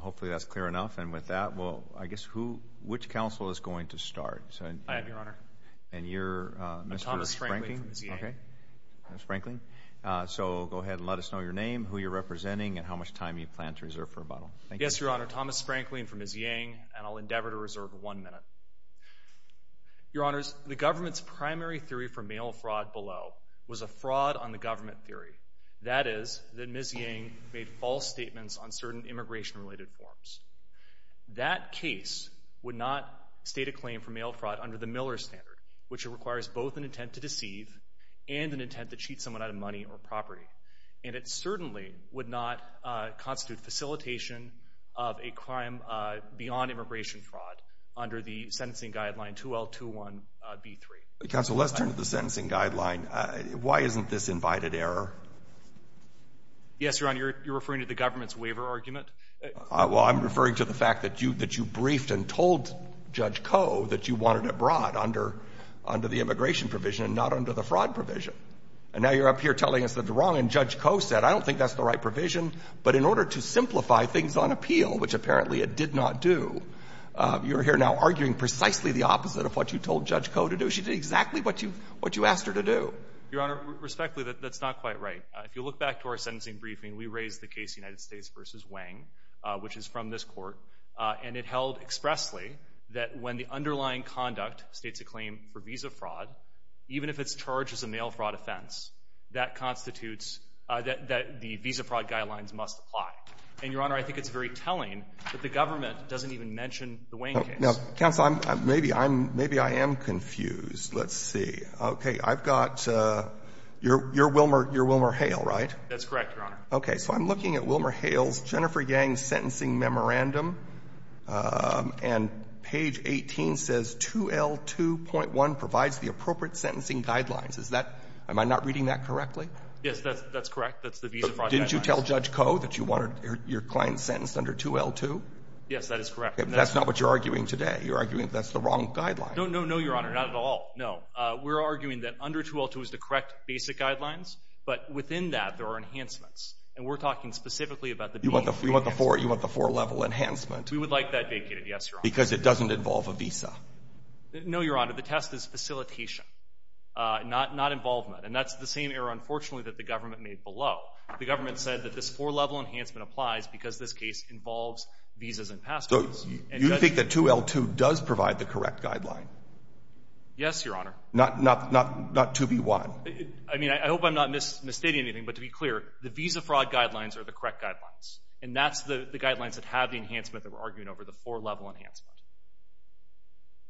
Hopefully that's clear enough, and with that, well, I guess who, which council is going to start? I have your honor. And you're Mr. Sprankling? Thomas Sprankling from Ms. Yang. So go ahead and let us know your name, who you're representing, and how much time you plan to reserve for rebuttal. Yes, your honor, Thomas Sprankling from Ms. Yang, and I'll endeavor to reserve one minute. Your honors, the government's primary theory for mail fraud below was a fraud on the government theory. That is that Ms. Yang made false statements on certain immigration-related forms. That case would not state a claim for mail fraud under the Miller Standard, which requires both an intent to deceive and an intent to cheat someone out of money or property. And it certainly would not constitute facilitation of a crime beyond immigration fraud under the sentencing guideline 2L21B3. Counsel, let's turn to the sentencing guideline. Why isn't this invited error? Yes, your honor, you're referring to the government's waiver argument? Well, I'm referring to the fact that you briefed and told Judge Koh that you wanted it brought under the immigration provision and not under the fraud provision. And now you're up here telling us that it's wrong, and Judge Koh said, I don't think that's the right provision. But in order to simplify things on appeal, which apparently it did not do, you're here now arguing precisely the opposite of what you told Judge Koh to do. She did exactly what you asked her to do. Your honor, respectfully, that's not quite right. If you look back to our sentencing briefing, we raised the case United States v. Wang, which is from this court. And it held expressly that when the underlying conduct states a claim for visa fraud, even if it's charged as a mail fraud offense, that constitutes that the visa fraud guidelines must apply. And, your honor, I think it's very telling that the government doesn't even mention the Wang case. Now, counsel, maybe I'm — maybe I am confused. Let's see. Okay. I've got — you're Wilmer — you're Wilmer Hale, right? That's correct, your honor. Okay. So I'm looking at Wilmer Hale's Jennifer Yang sentencing memorandum, and page 18 says 2L2.1 provides the appropriate sentencing guidelines. Is that — am I not reading that correctly? Yes, that's correct. That's the visa fraud guidelines. But didn't you tell Judge Koh that you wanted your client sentenced under 2L2? Yes, that is correct. That's not what you're arguing today. You're arguing that that's the wrong guidelines. No, no, no, your honor. Not at all. No. We're arguing that under 2L2 is the correct basic guidelines. But within that, there are enhancements. And we're talking specifically about the — You want the four-level enhancement. We would like that vacated, yes, your honor. Because it doesn't involve a visa. No, your honor. The test is facilitation, not involvement. And that's the same error, unfortunately, that the government made below. The government said that this four-level enhancement applies because this case involves visas and passports. So you think that 2L2 does provide the correct guideline? Yes, your honor. Not 2B1? I mean, I hope I'm not misstating anything. But to be clear, the visa fraud guidelines are the correct guidelines. And that's the guidelines that have the enhancement that we're arguing over, the four-level enhancement.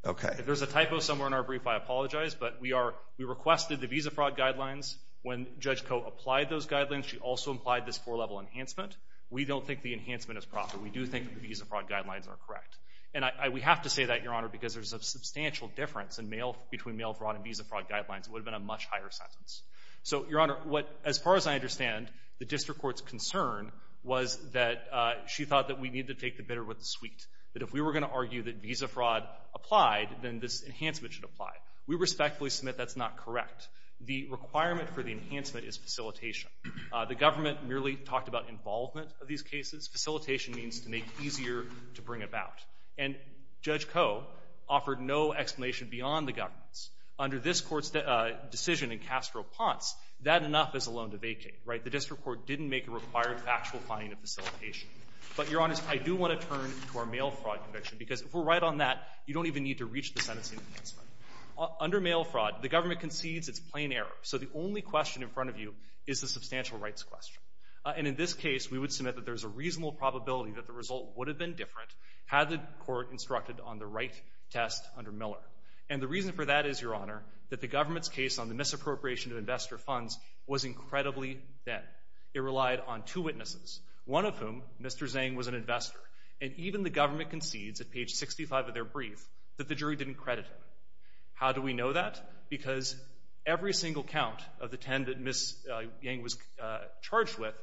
Okay. If there's a typo somewhere in our brief, I apologize. But we requested the visa fraud guidelines. When Judge Koh applied those guidelines, she also applied this four-level enhancement. We don't think the enhancement is proper. We do think that the visa fraud guidelines are correct. And we have to say that, your honor, because there's a substantial difference between mail fraud and visa fraud guidelines. It would have been a much higher sentence. So, your honor, as far as I understand, the district court's concern was that she thought that we need to take the bitter with the sweet, that if we were going to argue that visa fraud applied, then this enhancement should apply. We respectfully submit that's not correct. The requirement for the enhancement is facilitation. The government merely talked about involvement of these cases. Facilitation means to make easier to bring about. And Judge Koh offered no explanation beyond the government's. Under this court's decision in Castro-Ponce, that enough is a loan to vacate, right? The district court didn't make a required factual finding of facilitation. But, your honor, I do want to turn to our mail fraud conviction, because if we're right on that, you don't even need to reach the sentencing enhancement. Under mail fraud, the government concedes it's plain error. So the only question in front of you is the substantial rights question. And in this case, we would submit that there's a reasonable probability that the result would have been different had the court instructed on the right test under Miller. And the reason for that is, your honor, that the government's case on the misappropriation of investor funds was incredibly thin. It relied on two witnesses, one of whom, Mr. Zhang, was an investor. And even the government concedes at page 65 of their brief that the jury didn't credit him. How do we know that? Because every single count of the 10 that Ms. Yang was charged with,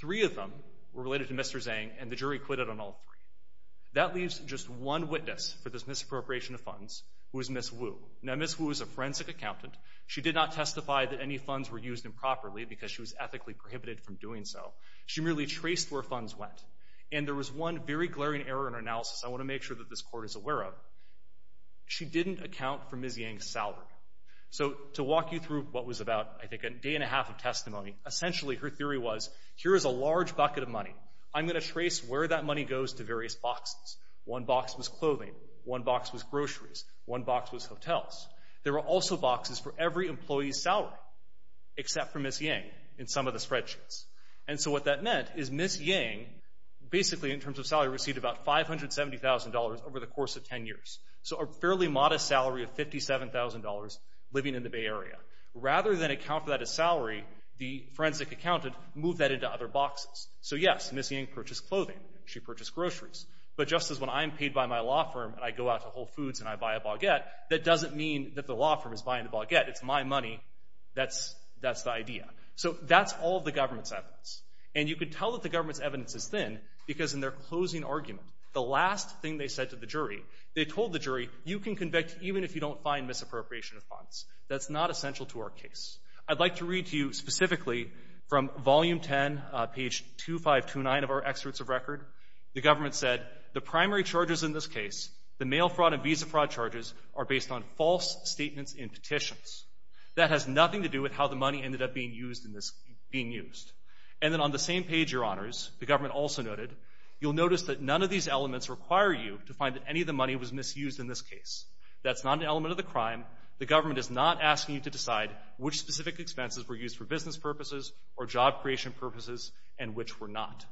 three of them were related to Mr. Zhang and the jury quitted on all three. That leaves just one witness for this misappropriation of funds, who is Ms. Wu. Now, Ms. Wu is a forensic accountant. She did not testify that any funds were used improperly because she was ethically prohibited from doing so. She merely traced where funds went. And there was one very glaring error in her analysis I want to make sure that this court is aware of. She didn't account for Ms. Yang's salary. So to walk you through what was about, I think, a day and a half of testimony, essentially her theory was, here is a large bucket of money. I'm going to trace where that money goes to various boxes. One box was clothing. One box was groceries. One box was hotels. There were also boxes for every employee's salary, except for Ms. Yang in some of the spreadsheets. And so what that meant is Ms. Yang, basically in terms of salary, received about $570,000 over the course of 10 years. So a fairly modest salary of $57,000 living in the Bay Area. Rather than account for that as salary, the forensic accountant moved that into other boxes. So, yes, Ms. Yang purchased clothing. She purchased groceries. But just as when I'm paid by my law firm and I go out to Whole Foods and I buy a baguette, that doesn't mean that the law firm is buying the baguette. It's my money. That's the idea. So that's all of the government's evidence. And you can tell that the government's evidence is thin because in their closing argument, the last thing they said to the jury, they told the jury, you can convict even if you don't find misappropriation of funds. That's not essential to our case. I'd like to read to you specifically from Volume 10, page 2529 of our Excerpts of Record. The government said, the primary charges in this case, the mail fraud and visa fraud charges, are based on false statements in petitions. That has nothing to do with how the money ended up being used. And then on the same page, Your Honors, the government also noted, you'll notice that none of these elements require you to find that any of the money was misused in this case. That's not an element of the crime. The government is not asking you to decide which specific expenses were used for business purposes or job creation purposes and which were not.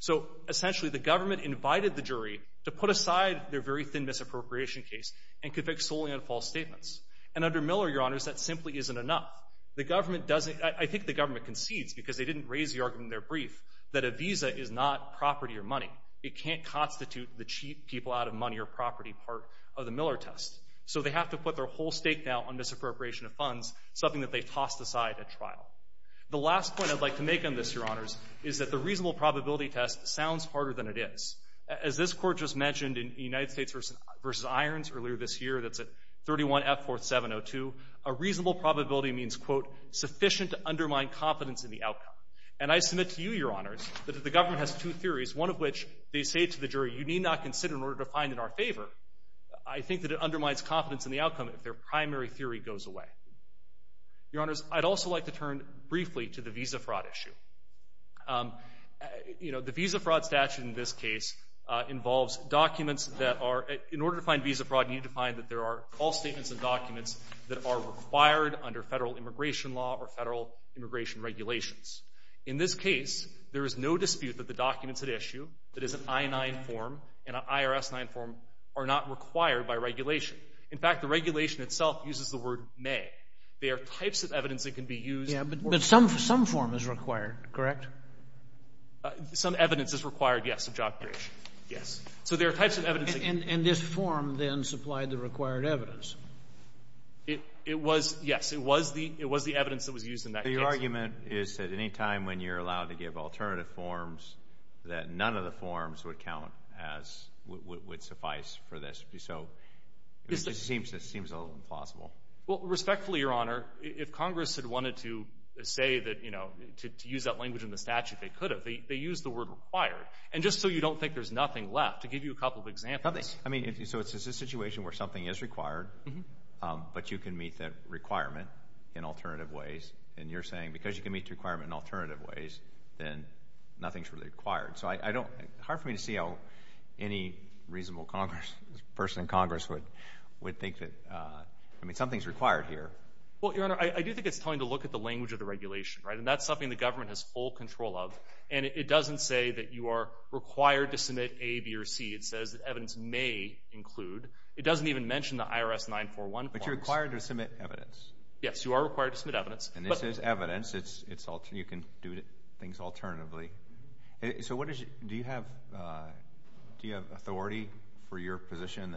So essentially, the government invited the jury to put aside their very thin misappropriation case and convict solely on false statements. And under Miller, Your Honors, that simply isn't enough. I think the government concedes because they didn't raise the argument in their brief that a visa is not property or money. It can't constitute the cheat people out of money or property part of the Miller test. So they have to put their whole stake now on misappropriation of funds, something that they tossed aside at trial. The last point I'd like to make on this, Your Honors, is that the reasonable probability test sounds harder than it is. As this court just mentioned in United States v. Irons earlier this year, that's at 31F 4702, a reasonable probability means, quote, sufficient to undermine confidence in the outcome. And I submit to you, Your Honors, that if the government has two theories, one of which they say to the jury, you need not consider in order to find in our favor, I think that it undermines confidence in the outcome if their primary theory goes away. Your Honors, I'd also like to turn briefly to the visa fraud issue. You know, the visa fraud statute in this case involves documents that are, in order to find visa fraud, you need to find that there are false statements and documents that are required under federal immigration law or federal immigration regulations. In this case, there is no dispute that the documents at issue, that is an I-9 form and an IRS-9 form, are not required by regulation. In fact, the regulation itself uses the word may. They are types of evidence that can be used. Yeah, but some form is required, correct? Some evidence is required, yes, of job creation. Yes. So there are types of evidence. And this form then supplied the required evidence. It was, yes, it was the evidence that was used in that case. The argument is that any time when you're allowed to give alternative forms, that none of the forms would count as would suffice for this. So it seems a little implausible. Well, respectfully, Your Honor, if Congress had wanted to say that, you know, to use that language in the statute, they could have. They used the word required. And just so you don't think there's nothing left, to give you a couple of examples. I mean, so it's a situation where something is required, but you can meet that requirement in alternative ways. And you're saying because you can meet the requirement in alternative ways, then nothing is really required. So it's hard for me to see how any reasonable person in Congress would think that, I mean, something is required here. Well, Your Honor, I do think it's time to look at the language of the regulation, right? And that's something the government has full control of. And it doesn't say that you are required to submit A, B, or C. It says that evidence may include. It doesn't even mention the IRS 941 forms. But you're required to submit evidence. Yes, you are required to submit evidence. And this is evidence. You can do things alternatively. So do you have authority for your position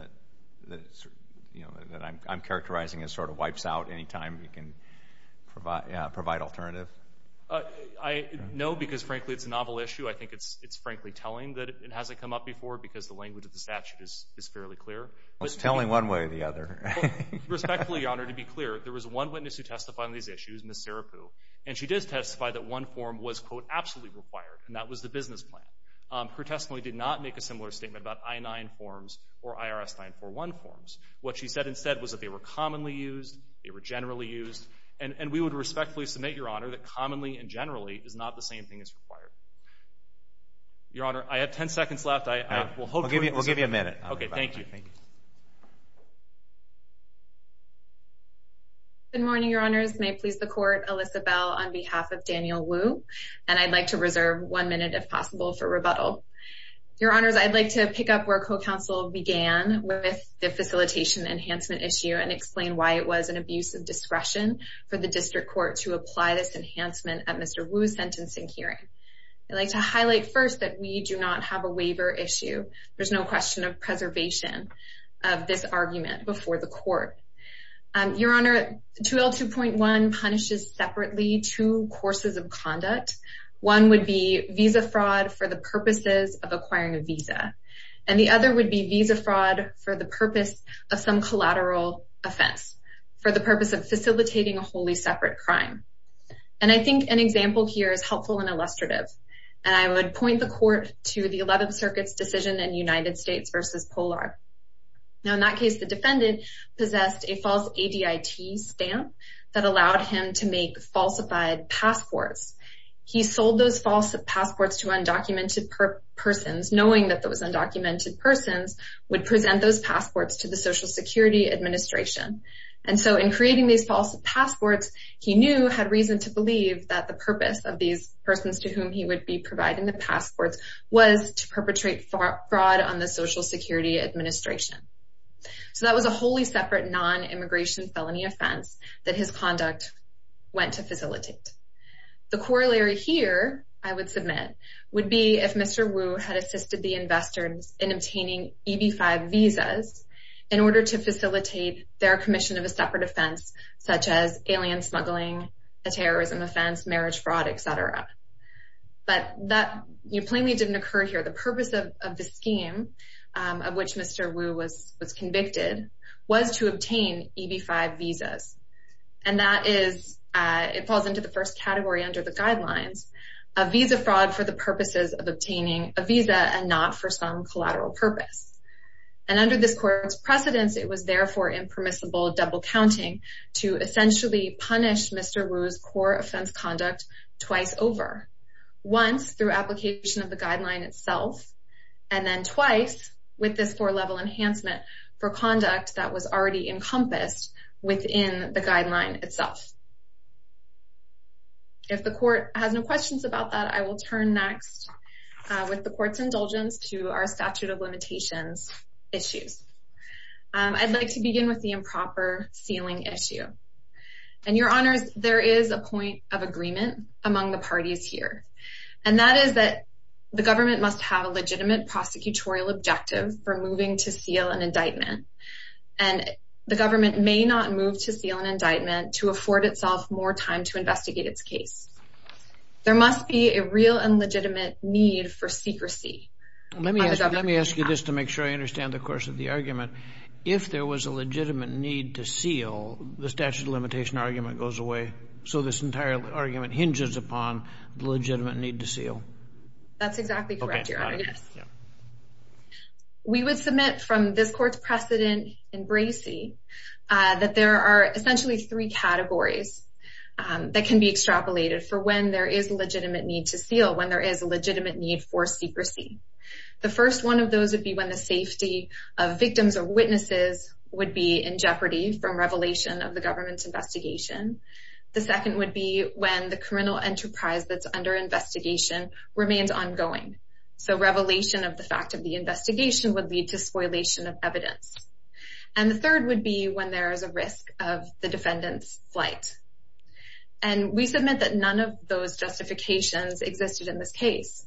that I'm characterizing as sort of wipes out any time you can provide alternative? No, because, frankly, it's a novel issue. I think it's, frankly, telling that it hasn't come up before because the language of the statute is fairly clear. Well, it's telling one way or the other. Respectfully, Your Honor, to be clear, there was one witness who testified on these issues, Ms. Serapu. And she did testify that one form was, quote, absolutely required, and that was the business plan. Her testimony did not make a similar statement about I-9 forms or IRS 941 forms. What she said instead was that they were commonly used, they were generally used. And we would respectfully submit, Your Honor, that commonly and generally is not the same thing as required. Your Honor, I have 10 seconds left. We'll give you a minute. Okay, thank you. Good morning, Your Honors. May it please the Court, Alyssa Bell on behalf of Daniel Wu. And I'd like to reserve one minute, if possible, for rebuttal. Your Honors, I'd like to pick up where co-counsel began with the facilitation enhancement issue and explain why it was an abuse of discretion for the district court to apply this enhancement at Mr. Wu's sentencing hearing. I'd like to highlight first that we do not have a waiver issue. There's no question of preservation of this argument before the court. Your Honor, 2L2.1 punishes separately two courses of conduct. One would be visa fraud for the purposes of acquiring a visa. And the other would be visa fraud for the purpose of some collateral offense, for the purpose of facilitating a wholly separate crime. And I think an example here is helpful and illustrative. And I would point the Court to the 11th Circuit's decision in United States v. Polar. Now, in that case, the defendant possessed a false ADIT stamp that allowed him to make falsified passports. He sold those false passports to undocumented persons, knowing that those undocumented persons would present those passports to the Social Security Administration. And so in creating these false passports, he knew, had reason to believe, that the purpose of these persons to whom he would be providing the passports was to perpetrate fraud on the Social Security Administration. So that was a wholly separate non-immigration felony offense that his conduct went to facilitate. The corollary here, I would submit, would be if Mr. Wu had assisted the investors in obtaining EB-5 visas in order to facilitate their commission of a separate offense, such as alien smuggling, a terrorism offense, marriage fraud, etc. But that plainly didn't occur here. The purpose of the scheme of which Mr. Wu was convicted was to obtain EB-5 visas. And that is, it falls into the first category under the guidelines, a visa fraud for the purposes of obtaining a visa and not for some collateral purpose. And under this Court's precedence, it was therefore impermissible double-counting to essentially punish Mr. Wu's core offense conduct twice over. Once, through application of the guideline itself, and then twice, with this four-level enhancement, for conduct that was already encompassed within the guideline itself. If the Court has no questions about that, I will turn next, with the Court's indulgence, to our statute of limitations issues. I'd like to begin with the improper sealing issue. And, Your Honors, there is a point of agreement among the parties here. And that is that the government must have a legitimate prosecutorial objective for moving to seal an indictment. And the government may not move to seal an indictment to afford itself more time to investigate its case. There must be a real and legitimate need for secrecy. Let me ask you this to make sure I understand the course of the argument. If there was a legitimate need to seal, the statute of limitation argument goes away. So this entire argument hinges upon the legitimate need to seal. That's exactly correct, Your Honor. We would submit from this Court's precedent in Bracey that there are essentially three categories that can be extrapolated for when there is a legitimate need to seal, when there is a legitimate need for secrecy. The first one of those would be when the safety of victims or witnesses would be in jeopardy from revelation of the government's investigation. The second would be when the criminal enterprise that's under investigation remains ongoing. So revelation of the fact of the investigation would lead to spoilation of evidence. And the third would be when there is a risk of the defendant's flight. And we submit that none of those justifications existed in this case.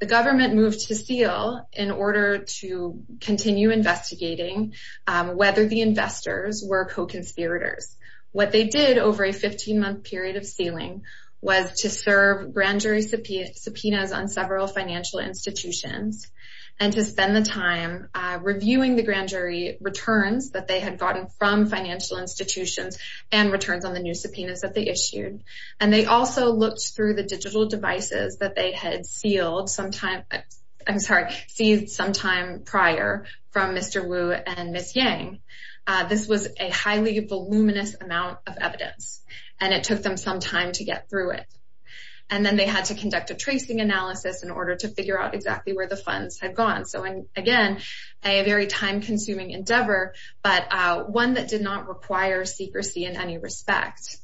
The government moved to seal in order to continue investigating whether the investors were co-conspirators. What they did over a 15-month period of sealing was to serve grand jury subpoenas on several financial institutions and to spend the time reviewing the grand jury returns that they had gotten from financial institutions and returns on the new subpoenas that they issued. And they also looked through the digital devices that they had seized sometime prior from Mr. Wu and Ms. Yang. This was a highly voluminous amount of evidence, and it took them some time to get through it. And then they had to conduct a tracing analysis in order to figure out exactly where the funds had gone. So, again, a very time-consuming endeavor, but one that did not require secrecy in any respect.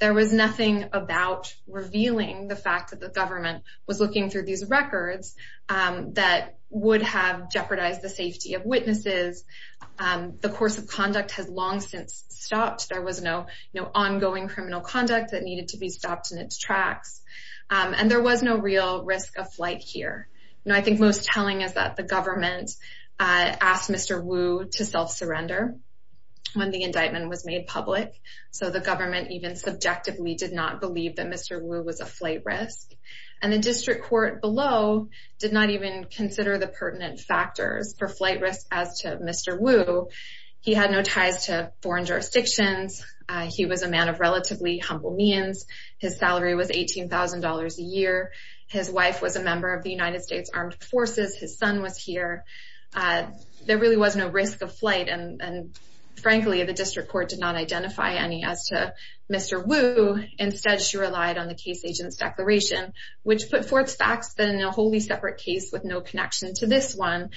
There was nothing about revealing the fact that the government was looking through these records that would have jeopardized the safety of witnesses. The course of conduct has long since stopped. There was no ongoing criminal conduct that needed to be stopped in its tracks. And there was no real risk of flight here. I think most telling is that the government asked Mr. Wu to self-surrender when the indictment was made public. So the government even subjectively did not believe that Mr. Wu was a flight risk. And the district court below did not even consider the pertinent factors for flight risk as to Mr. Wu. He had no ties to foreign jurisdictions. He was a man of relatively humble means. His salary was $18,000 a year. His wife was a member of the United States Armed Forces. His son was here. There really was no risk of flight, and, frankly, the district court did not identify any as to Mr. Wu. Instead, she relied on the case agent's declaration, which put forth facts that in a wholly separate case with no connection to this one,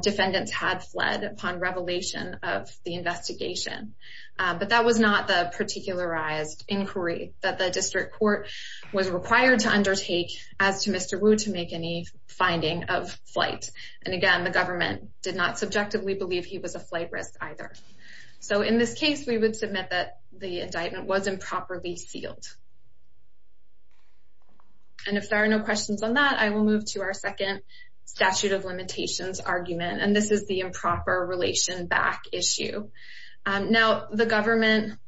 defendants had fled upon revelation of the investigation. But that was not the particularized inquiry that the district court was required to undertake as to Mr. Wu to make any finding of flight. And, again, the government did not subjectively believe he was a flight risk either. So in this case, we would submit that the indictment was improperly sealed. And if there are no questions on that, I will move to our second statute of limitations argument, and this is the improper relation back issue. Now, the government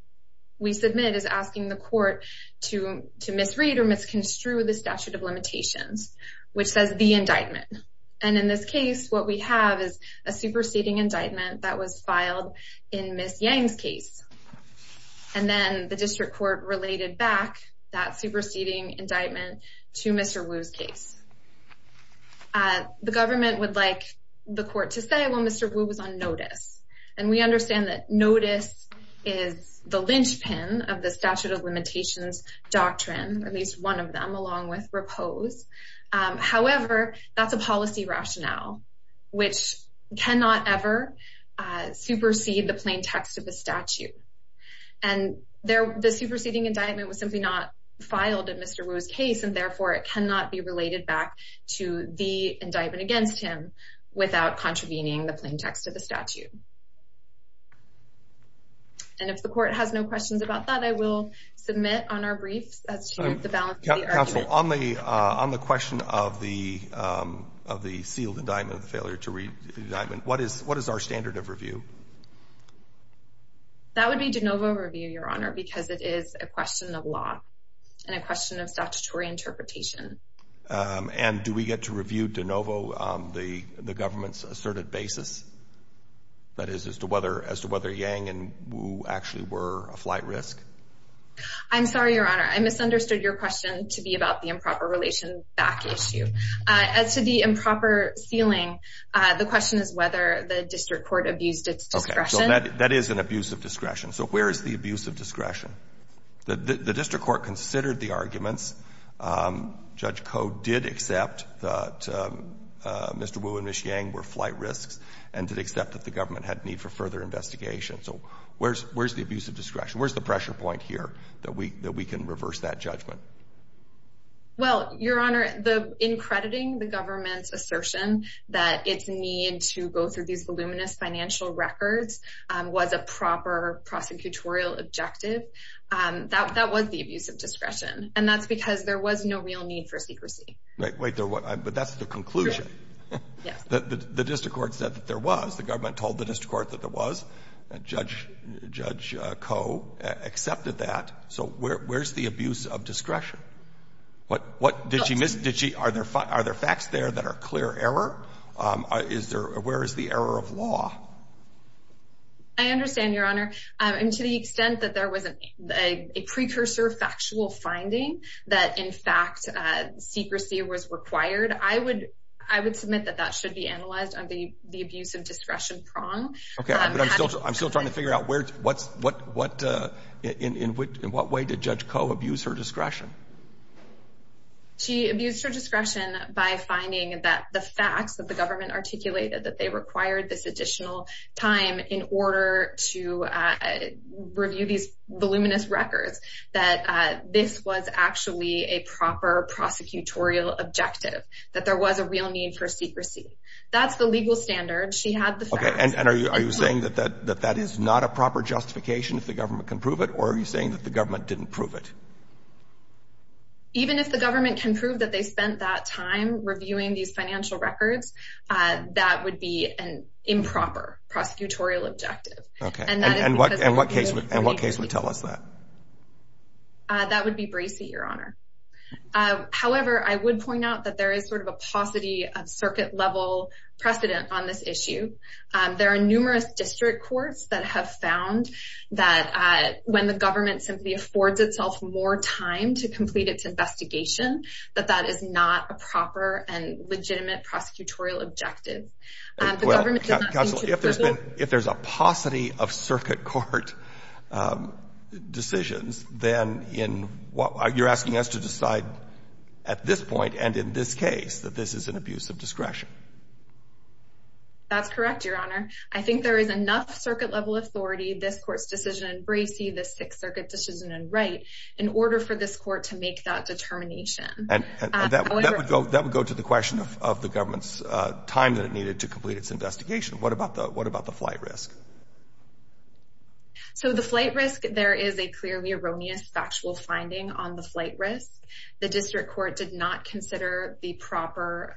we submit is asking the court to misread or misconstrue the statute of limitations, which says the indictment. And in this case, what we have is a superseding indictment that was filed in Ms. Yang's case. And then the district court related back that superseding indictment to Mr. Wu's case. The government would like the court to say, well, Mr. Wu was on notice. And we understand that notice is the linchpin of the statute of limitations doctrine, at least one of them, along with repose. However, that's a policy rationale, which cannot ever supersede the plain text of the statute. And the superseding indictment was simply not filed in Mr. Wu's case, and therefore it cannot be related back to the indictment against him without contravening the plain text of the statute. And if the court has no questions about that, I will submit on our briefs as to the balance of the argument. Counsel, on the question of the sealed indictment, the failure to read the indictment, what is our standard of review? That would be de novo review, Your Honor, because it is a question of law and a question of statutory interpretation. And do we get to review de novo the government's asserted basis? That is, as to whether Yang and Wu actually were a flight risk? I'm sorry, Your Honor. I misunderstood your question to be about the improper relation back issue. As to the improper sealing, the question is whether the district court abused its discretion. Okay. So that is an abuse of discretion. So where is the abuse of discretion? The district court considered the arguments. Judge Koh did accept that Mr. Wu and Ms. Yang were flight risks and did accept that the government had need for further investigation. So where's the abuse of discretion? Where's the pressure point here that we can reverse that judgment? Well, Your Honor, in crediting the government's assertion that its need to go through these voluminous financial records was a proper prosecutorial objective, that was the abuse of discretion. And that's because there was no real need for secrecy. Wait, but that's the conclusion. Yes. The district court said that there was. The government told the district court that there was. Judge Koh accepted that. So where's the abuse of discretion? What did she miss? Are there facts there that are clear error? Where is the error of law? I understand, Your Honor. And to the extent that there was a precursor factual finding that in fact secrecy was required, I would submit that that should be analyzed on the abuse of discretion prong. Okay. But I'm still trying to figure out in what way did Judge Koh abuse her discretion? She abused her discretion by finding that the facts that the government articulated that they required this additional time in order to review these voluminous records, that this was actually a proper prosecutorial objective, that there was a real need for secrecy. That's the legal standard. She had the facts. Okay. And are you saying that that is not a proper justification if the government can prove it, or are you saying that the government didn't prove it? Even if the government can prove that they spent that time reviewing these financial records, that would be an improper prosecutorial objective. Okay. And what case would tell us that? That would be Bracey, Your Honor. However, I would point out that there is sort of a paucity of circuit-level precedent on this issue. There are numerous district courts that have found that when the government simply affords itself more time to complete its investigation, that that is not a proper and legitimate prosecutorial objective. The government did not seem to approve it. If there's a paucity of circuit court decisions, then in what – you're asking us to decide at this point and in this case that this is an abuse of discretion. That's correct, Your Honor. I think there is enough circuit-level authority, this court's decision in Bracey, this Sixth Circuit decision in Wright, in order for this court to make that determination. And that would go to the question of the government's time that it needed to complete its investigation. What about the flight risk? So the flight risk, there is a clearly erroneous factual finding on the flight risk. The district court did not consider the proper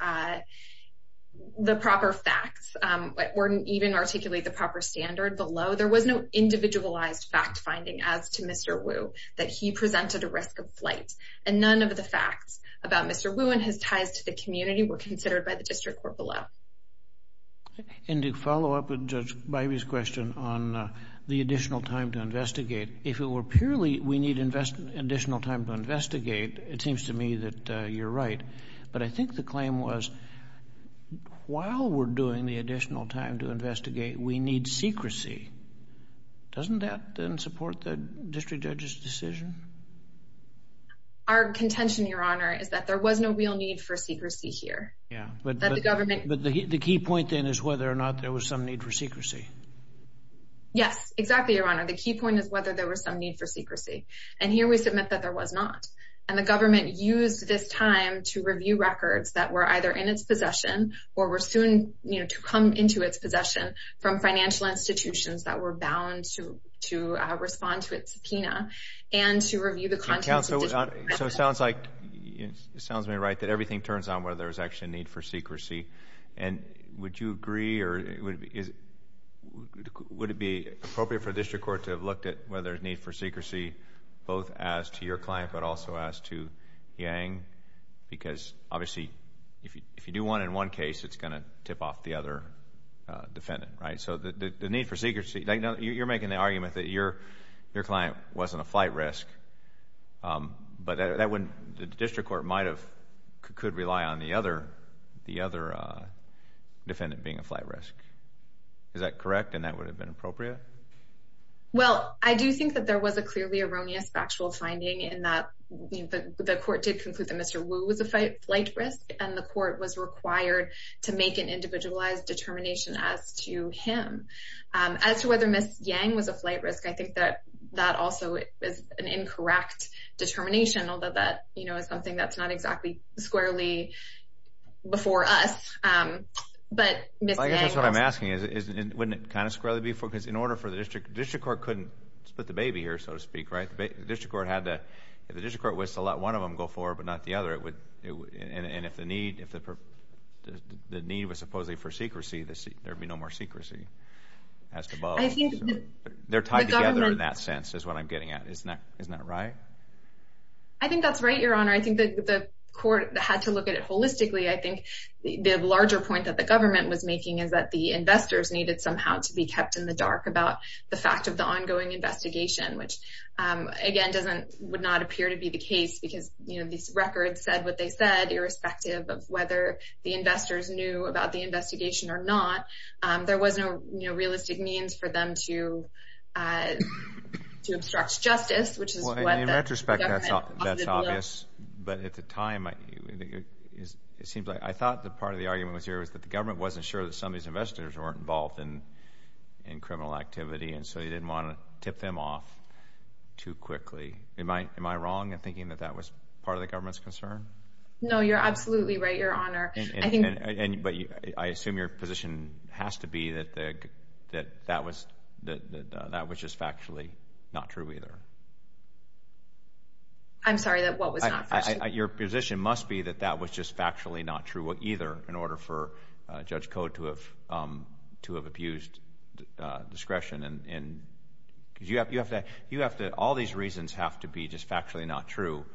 facts. It wouldn't even articulate the proper standard below. There was no individualized fact-finding as to Mr. Wu that he presented a risk of flight. And none of the facts about Mr. Wu and his ties to the community were considered by the district court below. And to follow up with Judge Bybee's question on the additional time to investigate, if it were purely we need additional time to investigate, it seems to me that you're right. But I think the claim was while we're doing the additional time to investigate, we need secrecy. Doesn't that support the district judge's decision? Our contention, Your Honor, is that there was no real need for secrecy here. But the key point then is whether or not there was some need for secrecy. Yes, exactly, Your Honor. The key point is whether there was some need for secrecy. And here we submit that there was not. And the government used this time to review records that were either in its possession or were soon to come into its possession from financial institutions that were bound to respond to its subpoena and to review the contents of the district court. So it sounds like, it sounds to me right that everything turns on whether there was actually a need for secrecy. And would you agree or would it be appropriate for the district court to have looked at whether there's need for secrecy both as to your client but also as to Yang? Because obviously if you do one in one case, it's going to tip off the other defendant, right? So the need for secrecy, you're making the argument that your client wasn't a flight risk, but the district court could rely on the other defendant being a flight risk. Is that correct and that would have been appropriate? Well, I do think that there was a clearly erroneous factual finding in that the court did conclude that Mr. Wu was a flight risk and the court was required to make an individualized determination as to him. As to whether Ms. Yang was a flight risk, I think that that also is an incorrect determination, although that is something that's not exactly squarely before us. I guess what I'm asking is wouldn't it kind of squarely before? Because in order for the district court, the district court couldn't split the baby here, so to speak, right? If the district court was to let one of them go forward but not the other, and if the need was supposedly for secrecy, there would be no more secrecy as to both. They're tied together in that sense is what I'm getting at. Isn't that right? I think that's right, Your Honor. I think that the court had to look at it holistically. I think the larger point that the government was making is that the investors needed somehow to be kept in the dark about the fact of the ongoing investigation, which, again, would not appear to be the case because these records said what they said, irrespective of whether the investors knew about the investigation or not. There was no realistic means for them to obstruct justice, which is what the government— In retrospect, that's obvious. But at the time, it seems like I thought that part of the argument was here in criminal activity, and so you didn't want to tip them off too quickly. Am I wrong in thinking that that was part of the government's concern? No, you're absolutely right, Your Honor. But I assume your position has to be that that was just factually not true either. I'm sorry, what was not true? Your position must be that that was just factually not true either in order for Judge Code to have abused discretion. Because all these reasons have to be just factually not true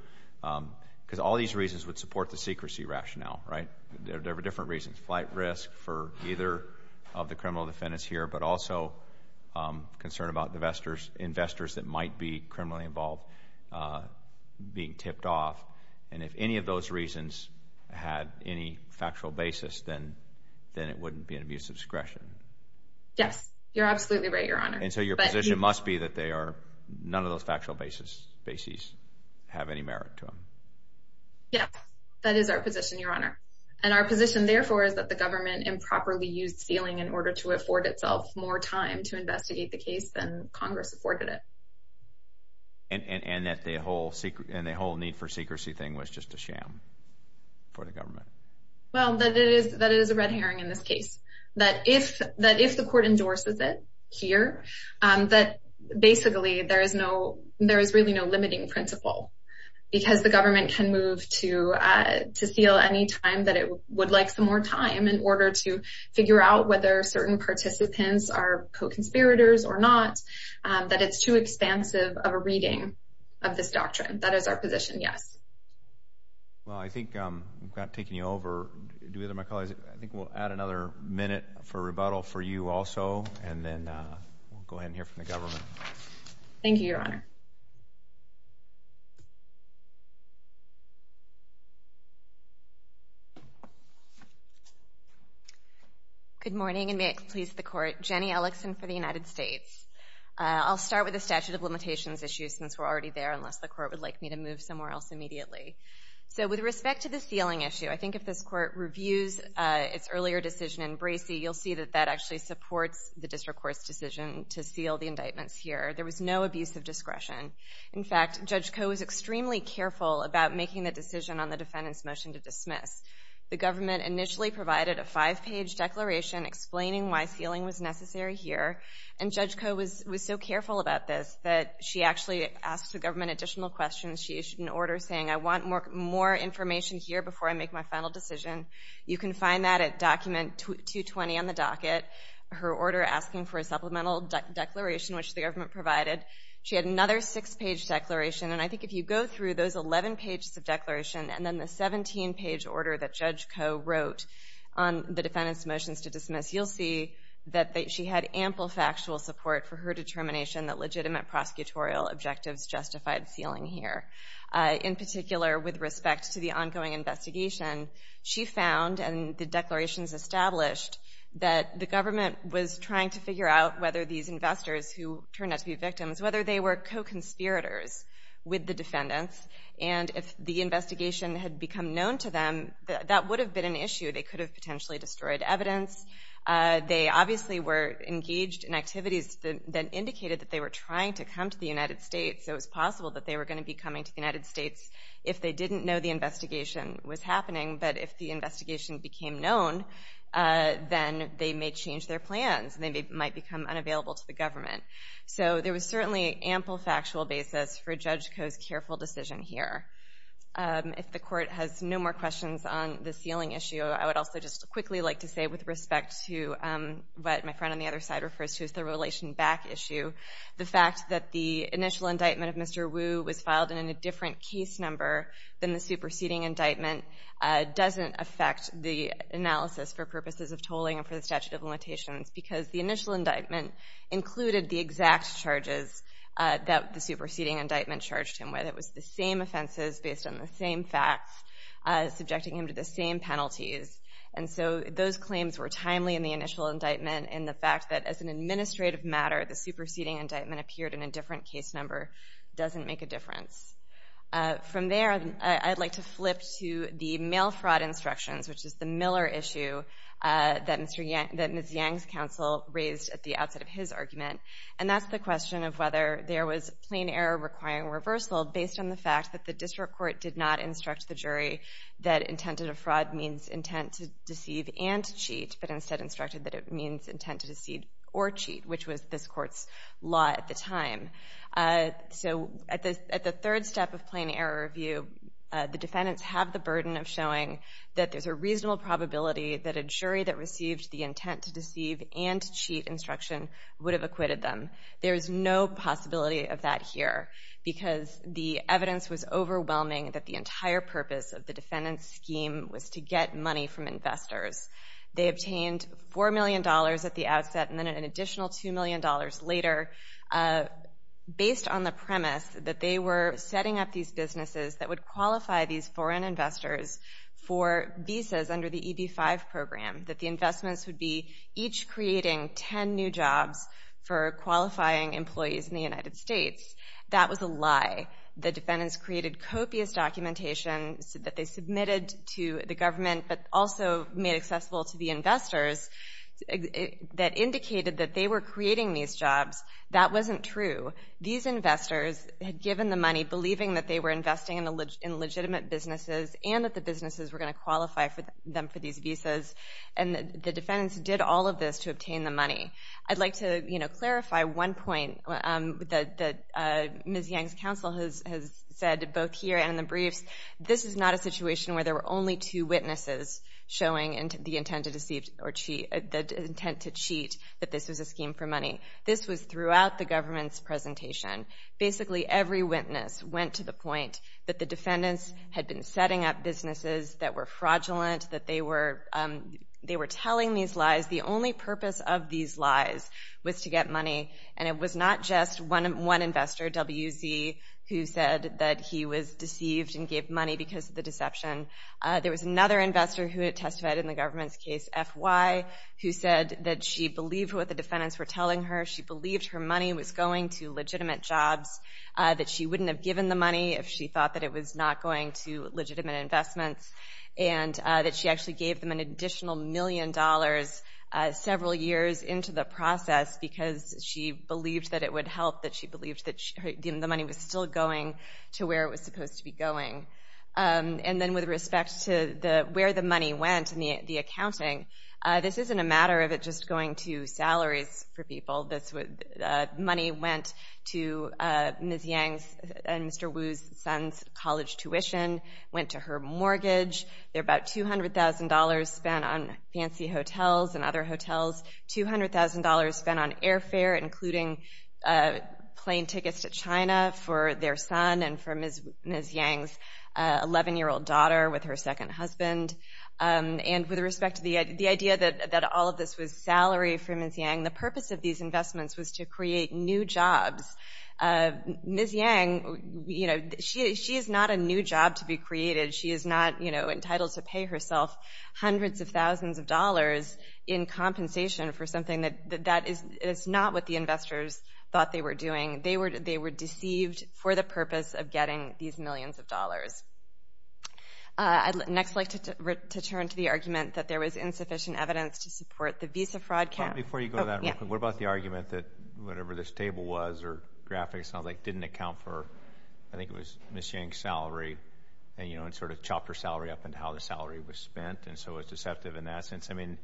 because all these reasons would support the secrecy rationale, right? There were different reasons, flight risk for either of the criminal defendants here, but also concern about investors that might be criminally involved being tipped off. And if any of those reasons had any factual basis, then it wouldn't be an abuse of discretion. Yes, you're absolutely right, Your Honor. And so your position must be that none of those factual bases have any merit to them. Yes, that is our position, Your Honor. And our position, therefore, is that the government improperly used stealing in order to afford itself more time to investigate the case than Congress afforded it. And that the whole need for secrecy thing was just a sham for the government? Well, that it is a red herring in this case. That if the court endorses it here, that basically there is really no limiting principle because the government can move to steal any time that it would like some more time in order to figure out whether certain participants are co-conspirators or not, that it's too expansive of a reading of this doctrine. That is our position, yes. Well, I think without taking you over, do either of my colleagues, I think we'll add another minute for rebuttal for you also, and then we'll go ahead and hear from the government. Thank you, Your Honor. Good morning, and may it please the Court. Jenny Ellickson for the United States. I'll start with the statute of limitations issue since we're already there unless the Court would like me to move somewhere else immediately. So with respect to the sealing issue, I think if this Court reviews its earlier decision in Bracey, you'll see that that actually supports the district court's decision to seal the indictments here. There was no abuse of discretion. In fact, Judge Koh was extremely careful about making the decision on the defendant's motion to dismiss. The government initially provided a five-page declaration explaining why sealing was necessary here, and Judge Koh was so careful about this that she actually asked the government additional questions. She issued an order saying, I want more information here before I make my final decision. You can find that at document 220 on the docket, her order asking for a supplemental declaration, which the government provided. She had another six-page declaration, and I think if you go through those 11 pages of declaration and then the 17-page order that Judge Koh wrote on the defendant's motions to dismiss, you'll see that she had ample factual support for her determination that legitimate prosecutorial objectives justified sealing here. In particular, with respect to the ongoing investigation, she found and the declarations established that the government was trying to figure out whether these investors who turned out to be victims, whether they were co-conspirators with the defendants, and if the investigation had become known to them, that would have been an issue. They could have potentially destroyed evidence. They obviously were engaged in activities that indicated that they were trying to come to the United States, so it was possible that they were going to be coming to the United States if they didn't know the investigation was happening. But if the investigation became known, then they may change their plans and they might become unavailable to the government. So there was certainly ample factual basis for Judge Koh's careful decision here. If the Court has no more questions on the sealing issue, I would also just quickly like to say, with respect to what my friend on the other side refers to as the relation back issue, the fact that the initial indictment of Mr. Wu was filed in a different case number than the superseding indictment doesn't affect the analysis for purposes of tolling and for the statute of limitations because the initial indictment included the exact charges that the superseding indictment charged him with. It was the same offenses based on the same facts, subjecting him to the same penalties. And so those claims were timely in the initial indictment and the fact that as an administrative matter, the superseding indictment appeared in a different case number doesn't make a difference. From there, I'd like to flip to the mail fraud instructions, which is the Miller issue that Ms. Yang's counsel raised at the outset of his argument. And that's the question of whether there was plain error requiring reversal based on the fact that the District Court did not instruct the jury that intent of fraud means intent to deceive and to cheat, but instead instructed that it means intent to deceive or cheat, which was this court's law at the time. So at the third step of plain error review, the defendants have the burden of showing that there's a reasonable probability that a jury that received the intent to deceive and to cheat instruction would have acquitted them. There is no possibility of that here because the evidence was overwhelming that the entire purpose of the defendant's scheme was to get money from investors. They obtained $4 million at the outset and then an additional $2 million later based on the premise that they were setting up these businesses that would qualify these foreign investors for visas under the EB-5 program, that the investments would be each creating 10 new jobs for qualifying employees in the United States. That was a lie. The defendants created copious documentation that they submitted to the government but also made accessible to the investors that indicated that they were creating these jobs. That wasn't true. These investors had given the money, believing that they were investing in legitimate businesses and that the businesses were going to qualify them for these visas, and the defendants did all of this to obtain the money. I'd like to clarify one point that Ms. Yang's counsel has said both here and in the briefs. This is not a situation where there were only two witnesses showing the intent to cheat that this was a scheme for money. This was throughout the government's presentation. Basically, every witness went to the point that the defendants had been setting up businesses that were fraudulent, that they were telling these lies. The only purpose of these lies was to get money, and it was not just one investor, WZ, who said that he was deceived and gave money because of the deception. There was another investor who testified in the government's case, FY, who said that she believed what the defendants were telling her. She believed her money was going to legitimate jobs, that she wouldn't have given the money if she thought that it was not going to legitimate investments, and that she actually gave them an additional million dollars several years into the process because she believed that it would help, that she believed that the money was still going to where it was supposed to be going. And then with respect to where the money went and the accounting, this isn't a matter of it just going to salaries for people. Money went to Ms. Yang and Mr. Wu's son's college tuition, went to her mortgage. There were about $200,000 spent on fancy hotels and other hotels, $200,000 spent on airfare, including plane tickets to China for their son and for Ms. Yang's 11-year-old daughter with her second husband. And with respect to the idea that all of this was salary for Ms. Yang, the purpose of these investments was to create new jobs. Ms. Yang, you know, she is not a new job to be created. She is not, you know, entitled to pay herself hundreds of thousands of dollars in compensation for something that is not what the investors thought they were doing. They were deceived for the purpose of getting these millions of dollars. I'd next like to turn to the argument that there was insufficient evidence to support the visa fraud camp. Before you go that, what about the argument that whatever this table was or graphic sounds like didn't account for, I think it was Ms. Yang's salary, and, you know, it sort of chopped her salary up into how the salary was spent and so it was deceptive in that sense. I mean,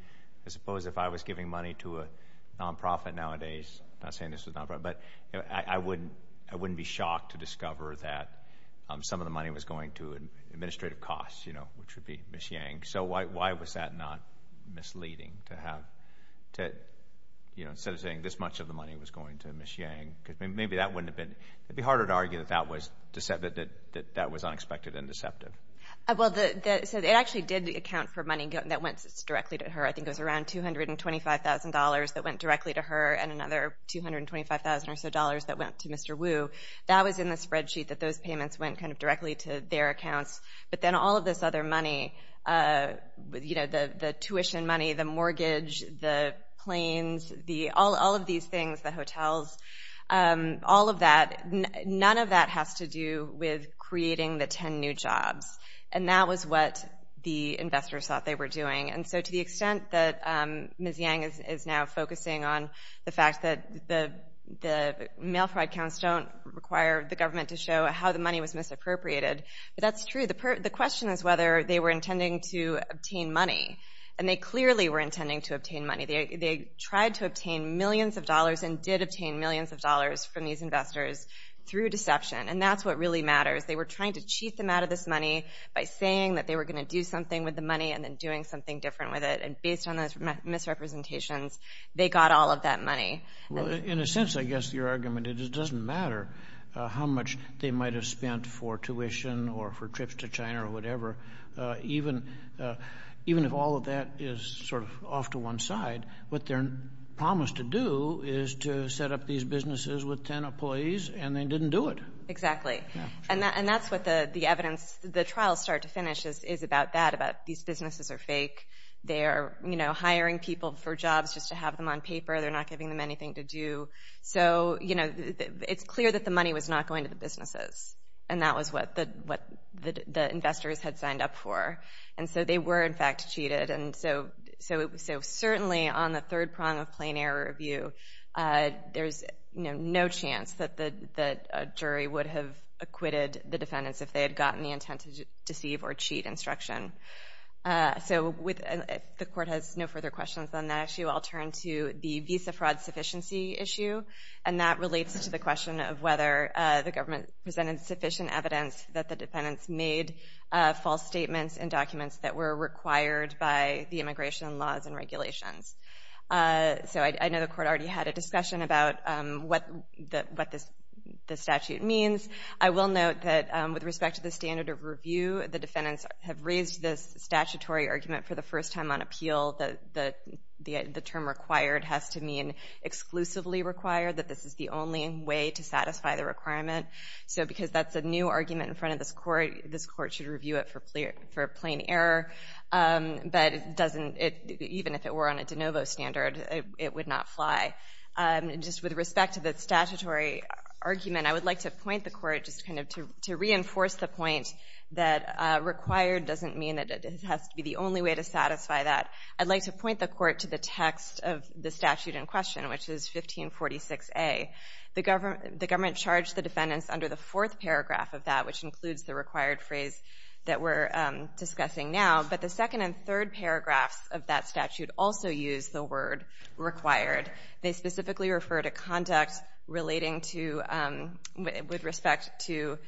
I suppose if I was giving money to a nonprofit nowadays, I'm not saying this was a nonprofit, but I wouldn't be shocked to discover that some of the money was going to administrative costs, you know, which would be Ms. Yang. So why was that not misleading to have, you know, instead of saying this much of the money was going to Ms. Yang? Because maybe that wouldn't have been, it would be harder to argue that that was unexpected and deceptive. Well, so it actually did account for money that went directly to her. I think it was around $225,000 that went directly to her and another $225,000 or so that went to Mr. Wu. That was in the spreadsheet that those payments went kind of directly to their accounts. But then all of this other money, you know, the tuition money, the mortgage, the planes, all of these things, the hotels, all of that, none of that has to do with creating the 10 new jobs. And that was what the investors thought they were doing. And so to the extent that Ms. Yang is now focusing on the fact that the mail-forward accounts don't require the government to show how the money was misappropriated, but that's true. The question is whether they were intending to obtain money. And they clearly were intending to obtain money. They tried to obtain millions of dollars and did obtain millions of dollars from these investors through deception. And that's what really matters. They were trying to cheat them out of this money by saying that they were going to do something with the money and then doing something different with it. And based on those misrepresentations, they got all of that money. Well, in a sense, I guess your argument is it doesn't matter how much they might have spent for tuition or for trips to China or whatever. Even if all of that is sort of off to one side, what they're promised to do is to set up these businesses with 10 employees, and they didn't do it. Exactly. And that's what the evidence, the trial start to finish is about that, about these businesses are fake. They are hiring people for jobs just to have them on paper. They're not giving them anything to do. So it's clear that the money was not going to the businesses, and that was what the investors had signed up for. And so they were, in fact, cheated. And so certainly on the third prong of plain error review, there's no chance that a jury would have acquitted the defendants if they had gotten the intent to deceive or cheat instruction. So if the Court has no further questions on that issue, I'll turn to the visa fraud sufficiency issue, and that relates to the question of whether the government presented sufficient evidence that the defendants made false statements and documents that were required by the immigration laws and regulations. So I know the Court already had a discussion about what the statute means. I will note that with respect to the standard of review, the defendants have raised this statutory argument for the first time on appeal that the term required has to mean exclusively required, that this is the only way to satisfy the requirement. So because that's a new argument in front of this Court, this Court should review it for plain error, but even if it were on a de novo standard, it would not fly. Just with respect to the statutory argument, I would like to point the Court just kind of to reinforce the point that required doesn't mean that it has to be the only way to satisfy that. I'd like to point the Court to the text of the statute in question, which is 1546A. The government charged the defendants under the fourth paragraph of that, which includes the required phrase that we're discussing now, but the second and third paragraphs of that statute also use the word required. They specifically refer to conduct relating to, with respect to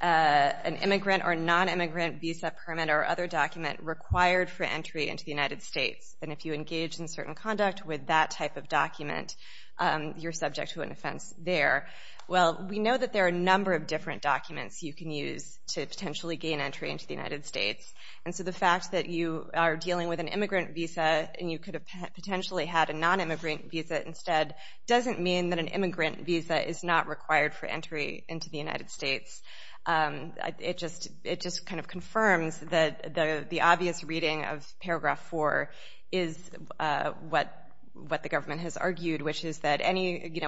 an immigrant or non-immigrant visa permit or other document required for entry into the United States, and if you engage in certain conduct with that type of document, you're subject to an offense there. Well, we know that there are a number of different documents you can use to potentially gain entry into the United States, and so the fact that you are dealing with an immigrant visa and you could have potentially had a non-immigrant visa instead doesn't mean that an immigrant visa is not required for entry into the United States. It just kind of confirms that the obvious reading of paragraph 4 is what the government has argued, which is that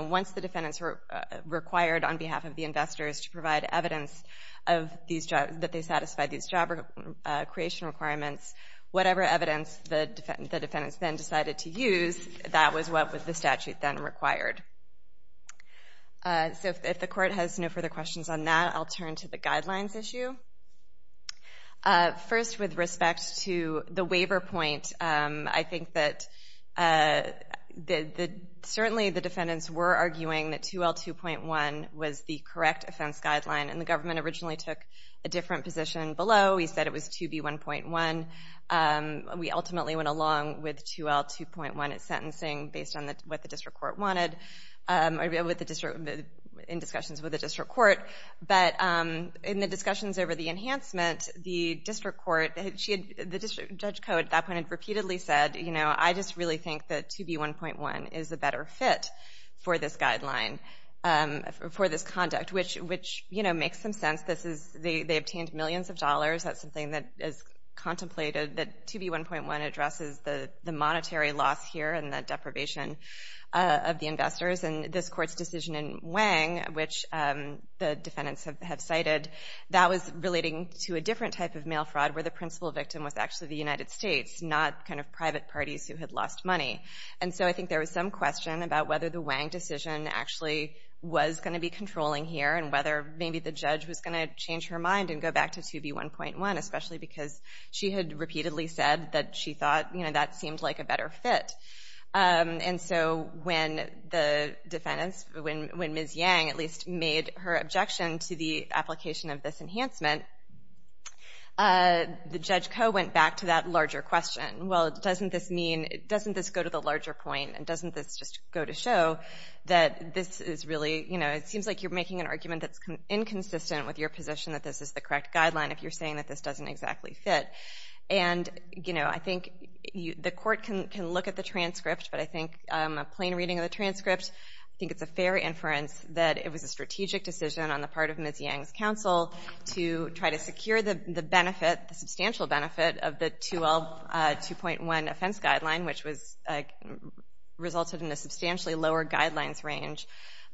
once the defendants were required on behalf of the investors to provide evidence that they satisfied these job creation requirements, whatever evidence the defendants then decided to use, that was what the statute then required. So if the court has no further questions on that, I'll turn to the guidelines issue. First, with respect to the waiver point, I think that certainly the defendants were arguing that 2L2.1 was the correct offense guideline, and the government originally took a different position below. We said it was 2B1.1. We ultimately went along with 2L2.1 sentencing based on what the district court wanted in discussions with the district court. But in the discussions over the enhancement, the district judge code at that point had repeatedly said, you know, I just really think that 2B1.1 is a better fit for this guideline, for this conduct, which, you know, makes some sense. They obtained millions of dollars. That's something that is contemplated, that 2B1.1 addresses the monetary loss here and the deprivation of the investors. And this court's decision in Wang, which the defendants have cited, that was relating to a different type of mail fraud where the principal victim was actually the United States, not kind of private parties who had lost money. And so I think there was some question about whether the Wang decision actually was going to be controlling here and whether maybe the judge was going to change her mind and go back to 2B1.1, especially because she had repeatedly said that she thought, you know, that seemed like a better fit. And so when the defendants, when Ms. Yang at least made her objection to the application of this enhancement, the judge code went back to that larger question. Well, doesn't this mean, doesn't this go to the larger point and doesn't this just go to show that this is really, you know, it seems like you're making an argument that's inconsistent with your position that this is the correct guideline if you're saying that this doesn't exactly fit. And, you know, I think the court can look at the transcript, but I think a plain reading of the transcript, I think it's a fair inference that it was a strategic decision on the part of Ms. Yang's counsel to try to secure the benefit, the substantial benefit, of the 2L2.1 offense guideline, which resulted in a substantially lower guidelines range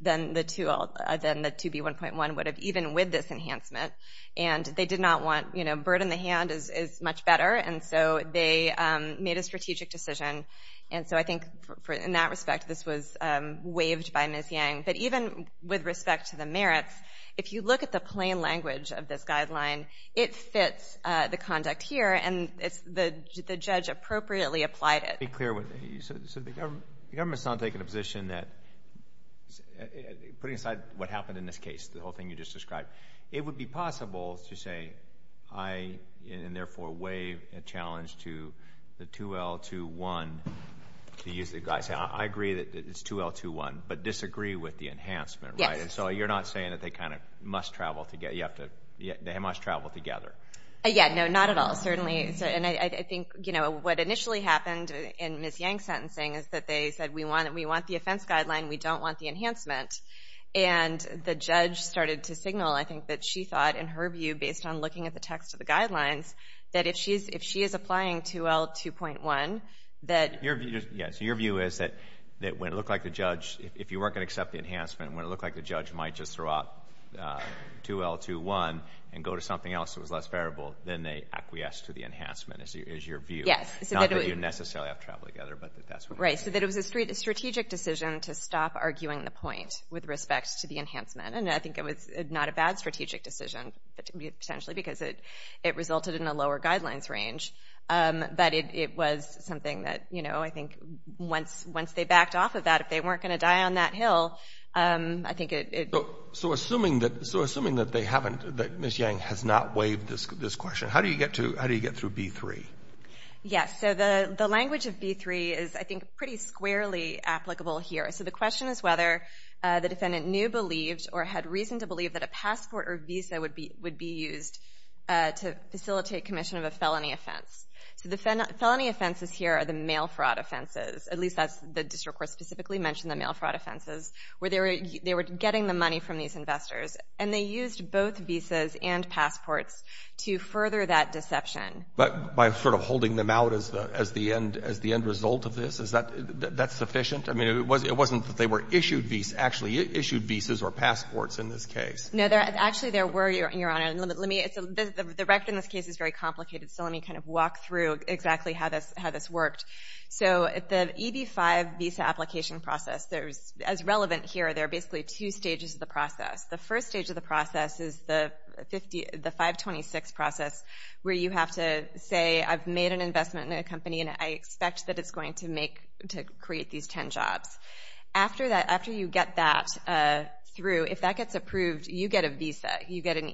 than the 2B1.1 would have even with this enhancement. And they did not want, you know, bird in the hand is much better, and so they made a strategic decision. And so I think in that respect, this was waived by Ms. Yang. But even with respect to the merits, if you look at the plain language of this guideline, it fits the conduct here, and the judge appropriately applied it. Let me be clear with you. So the government's not taking a position that, putting aside what happened in this case, the whole thing you just described, it would be possible to say, I, and therefore waive a challenge to the 2L2.1 to use the guideline. I agree that it's 2L2.1, but disagree with the enhancement, right? Yes. And so you're not saying that they kind of must travel together. They must travel together. Yeah, no, not at all, certainly. And I think, you know, what initially happened in Ms. Yang's sentencing is that they said, we want the offense guideline, we don't want the enhancement. And the judge started to signal, I think, that she thought, in her view, based on looking at the text of the guidelines, that if she is applying 2L2.1, that ---- Yes, your view is that when it looked like the judge, if you weren't going to accept the enhancement, when it looked like the judge might just throw out 2L2.1 and go to something else that was less favorable, then they acquiesce to the enhancement is your view. Yes. Not that you necessarily have to travel together, but that's what I'm saying. Right, so that it was a strategic decision to stop arguing the point with respect to the enhancement. And I think it was not a bad strategic decision, potentially because it resulted in a lower guidelines range. But it was something that, you know, I think once they backed off of that, if they weren't going to die on that hill, I think it ---- So assuming that they haven't, that Ms. Yang has not waived this question, how do you get through B3? Yes, so the language of B3 is, I think, pretty squarely applicable here. So the question is whether the defendant knew, believed, or had reason to believe that a passport or visa would be used to facilitate commission of a felony offense. So the felony offenses here are the mail fraud offenses, at least that's the district court specifically mentioned the mail fraud offenses, where they were getting the money from these investors. And they used both visas and passports to further that deception. But by sort of holding them out as the end result of this, is that sufficient? I mean, it wasn't that they were issued visas or passports in this case. No, actually there were, Your Honor. The record in this case is very complicated, so let me kind of walk through exactly how this worked. So the EB-5 visa application process, as relevant here, there are basically two stages of the process. The first stage of the process is the 526 process, where you have to say, I've made an investment in a company and I expect that it's going to create these ten jobs. After you get that through, if that gets approved, you get a visa. You get an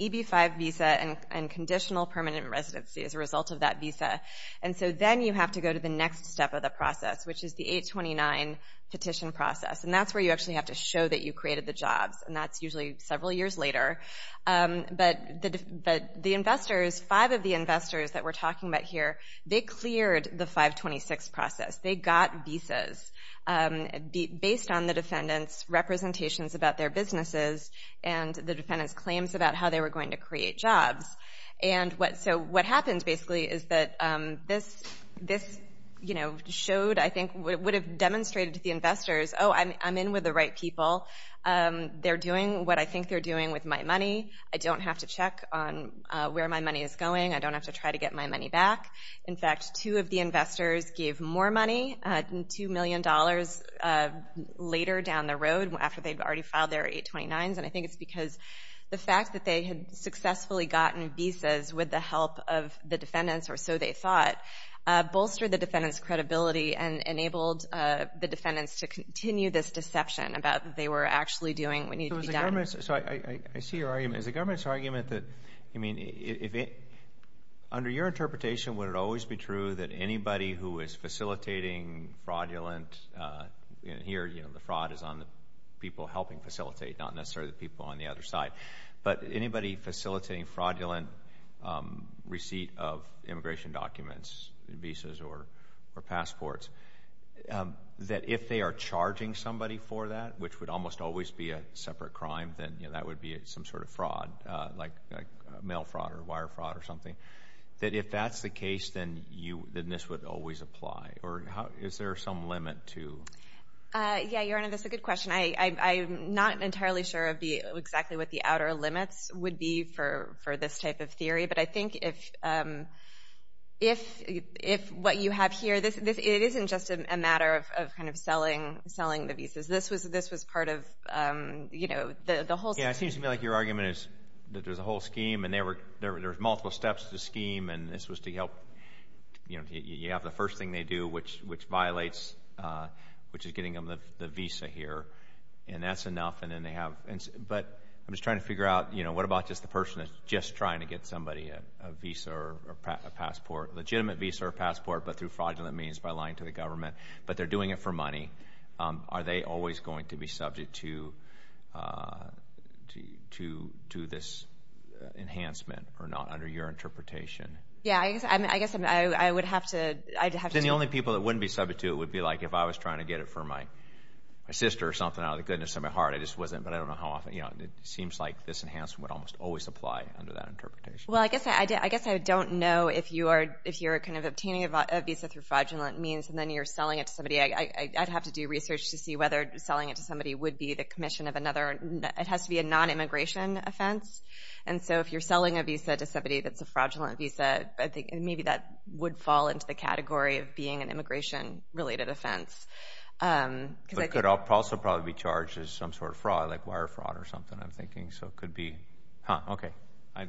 EB-5 visa and conditional permanent residency as a result of that visa. And so then you have to go to the next step of the process, which is the 829 petition process. And that's where you actually have to show that you created the jobs, and that's usually several years later. But the investors, five of the investors that we're talking about here, they cleared the 526 process. They got visas based on the defendant's representations about their businesses and the defendant's claims about how they were going to create jobs. So what happens basically is that this showed, I think, would have demonstrated to the investors, oh, I'm in with the right people. They're doing what I think they're doing with my money. I don't have to check on where my money is going. I don't have to try to get my money back. In fact, two of the investors gave more money, $2 million, later down the road after they'd already filed their 829s. And I think it's because the fact that they had successfully gotten visas with the help of the defendants, or so they thought, bolstered the defendant's credibility and enabled the defendants to continue this deception about what they were actually doing that needed to be done. So I see your argument. Is the government's argument that, I mean, under your interpretation would it always be true that anybody who is facilitating fraudulent, and here the fraud is on the people helping facilitate, not necessarily the people on the other side, but anybody facilitating fraudulent receipt of immigration documents, visas or passports, that if they are charging somebody for that, which would almost always be a separate crime, then that would be some sort of fraud, like mail fraud or wire fraud or something, that if that's the case, then this would always apply? Or is there some limit to? Yeah, your Honor, that's a good question. I'm not entirely sure exactly what the outer limits would be for this type of theory, but I think if what you have here, it isn't just a matter of kind of selling the visas. This was part of the whole scheme. Yeah, it seems to me like your argument is that there's a whole scheme and there's multiple steps to the scheme, and this was to help you have the first thing they do, which violates, which is getting them the visa here, and that's enough. But I'm just trying to figure out, you know, what about just the person that's just trying to get somebody a visa or a passport, a legitimate visa or passport, but through fraudulent means, by lying to the government, but they're doing it for money. Are they always going to be subject to this enhancement or not, under your interpretation? Yeah, I guess I would have to… But then the only people that wouldn't be subject to it would be, like, if I was trying to get it for my sister or something, out of the goodness of my heart. I just wasn't, but I don't know how often. It seems like this enhancement would almost always apply under that interpretation. Well, I guess I don't know if you're kind of obtaining a visa through fraudulent means and then you're selling it to somebody. I'd have to do research to see whether selling it to somebody would be the commission of another. It has to be a non-immigration offense. And so if you're selling a visa to somebody that's a fraudulent visa, I think maybe that would fall into the category of being an immigration-related offense. It could also probably be charged as some sort of fraud, like wire fraud or something, I'm thinking. So it could be… Well,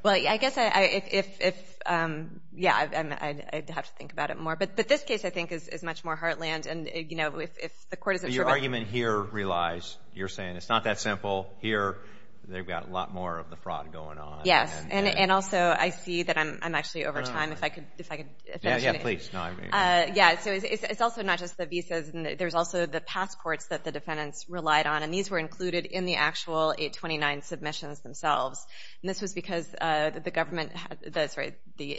I guess I'd have to think about it more. But this case, I think, is much more heartland. Your argument here relies, you're saying it's not that simple. Here they've got a lot more of the fraud going on. Yes, and also I see that I'm actually over time. If I could finish. Yeah, please. No, I mean… Yeah, so it's also not just the visas. There's also the passports that the defendants relied on, and these were included in the actual 829 submissions themselves. And this was because the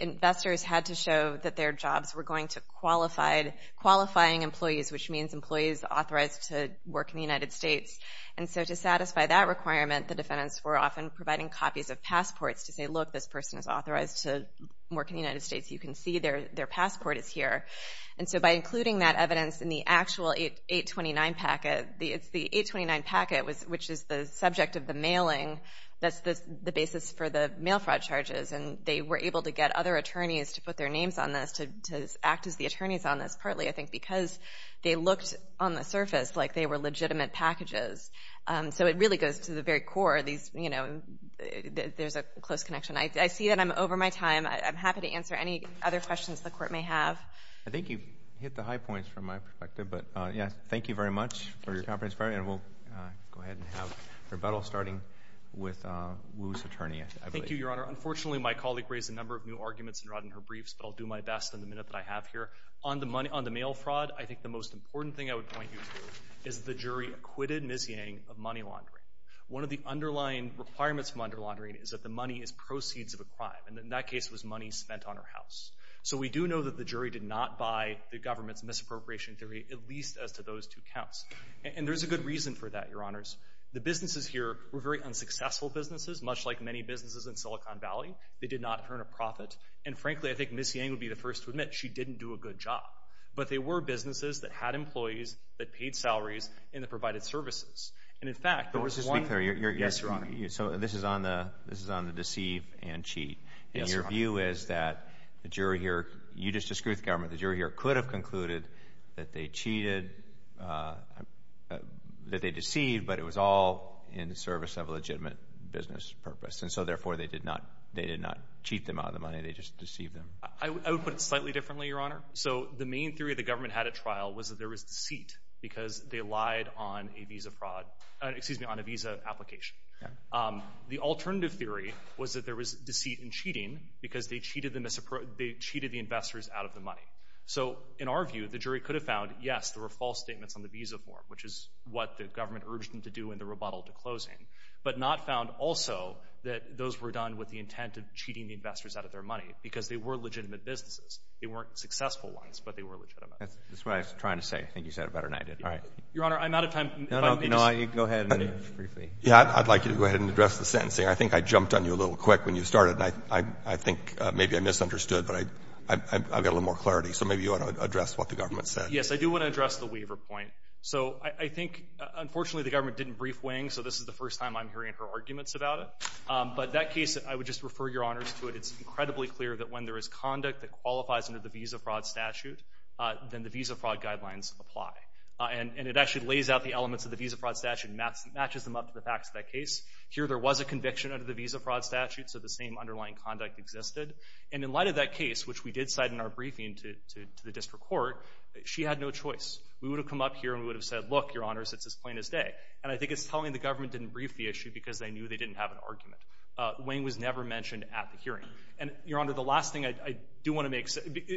investors had to show that their jobs were going to qualifying employees, which means employees authorized to work in the United States. And so to satisfy that requirement, the defendants were often providing copies of passports to say, look, this person is authorized to work in the United States. You can see their passport is here. And so by including that evidence in the actual 829 packet, the 829 packet, which is the subject of the mailing, that's the basis for the mail fraud charges, and they were able to get other attorneys to put their names on this, to act as the attorneys on this, partly, I think, because they looked on the surface like they were legitimate packages. So it really goes to the very core. There's a close connection. I see that I'm over my time. I'm happy to answer any other questions the Court may have. I think you've hit the high points from my perspective. Thank you very much for your conference. And we'll go ahead and have rebuttal starting with Wu's attorney. Thank you, Your Honor. Unfortunately, my colleague raised a number of new arguments and rotted her briefs, but I'll do my best in the minute that I have here. On the mail fraud, I think the most important thing I would point you to is the jury acquitted Ms. Yang of money laundering. One of the underlying requirements of money laundering is that the money is proceeds of a crime, and in that case it was money spent on her house. So we do know that the jury did not buy the government's misappropriation theory, at least as to those two counts. And there's a good reason for that, Your Honors. The businesses here were very unsuccessful businesses, much like many businesses in Silicon Valley. They did not earn a profit. And, frankly, I think Ms. Yang would be the first to admit she didn't do a good job. But they were businesses that had employees, that paid salaries, and that provided services. And, in fact, there was one— But let's just be clear. Yes, Your Honor. So this is on the deceive and cheat. Yes, Your Honor. And your view is that the jury here—you just disproved the government. The jury here could have concluded that they cheated, that they deceived, but it was all in the service of a legitimate business purpose. And so, therefore, they did not cheat them out of the money. They just deceived them. I would put it slightly differently, Your Honor. So the main theory the government had at trial was that there was deceit because they lied on a visa application. The alternative theory was that there was deceit and cheating because they cheated the investors out of the money. So, in our view, the jury could have found, yes, there were false statements on the visa form, which is what the government urged them to do in the rebuttal to closing, but not found also that those were done with the intent of cheating the investors out of their money because they were legitimate businesses. They weren't successful ones, but they were legitimate. That's what I was trying to say. I think you said it better than I did. All right. Your Honor, I'm out of time. No, no. Go ahead. Briefly. Yeah, I'd like you to go ahead and address the sentencing. I think I jumped on you a little quick when you started, and I think maybe I misunderstood, but I've got a little more clarity. So maybe you want to address what the government said. Yes, I do want to address the waiver point. So I think, unfortunately, the government didn't brief Wing, so this is the first time I'm hearing her arguments about it. But that case, I would just refer Your Honors to it. It's incredibly clear that when there is conduct that qualifies under the visa fraud statute, then the visa fraud guidelines apply. And it actually lays out the elements of the visa fraud statute and matches them up to the facts of that case. Here there was a conviction under the visa fraud statute, so the same underlying conduct existed. And in light of that case, which we did cite in our briefing to the district court, she had no choice. We would have come up here and we would have said, look, Your Honors, it's as plain as day. And I think it's telling the government didn't brief the issue because they knew they didn't have an argument. Wing was never mentioned at the hearing. And, Your Honor, the last thing I do want to make,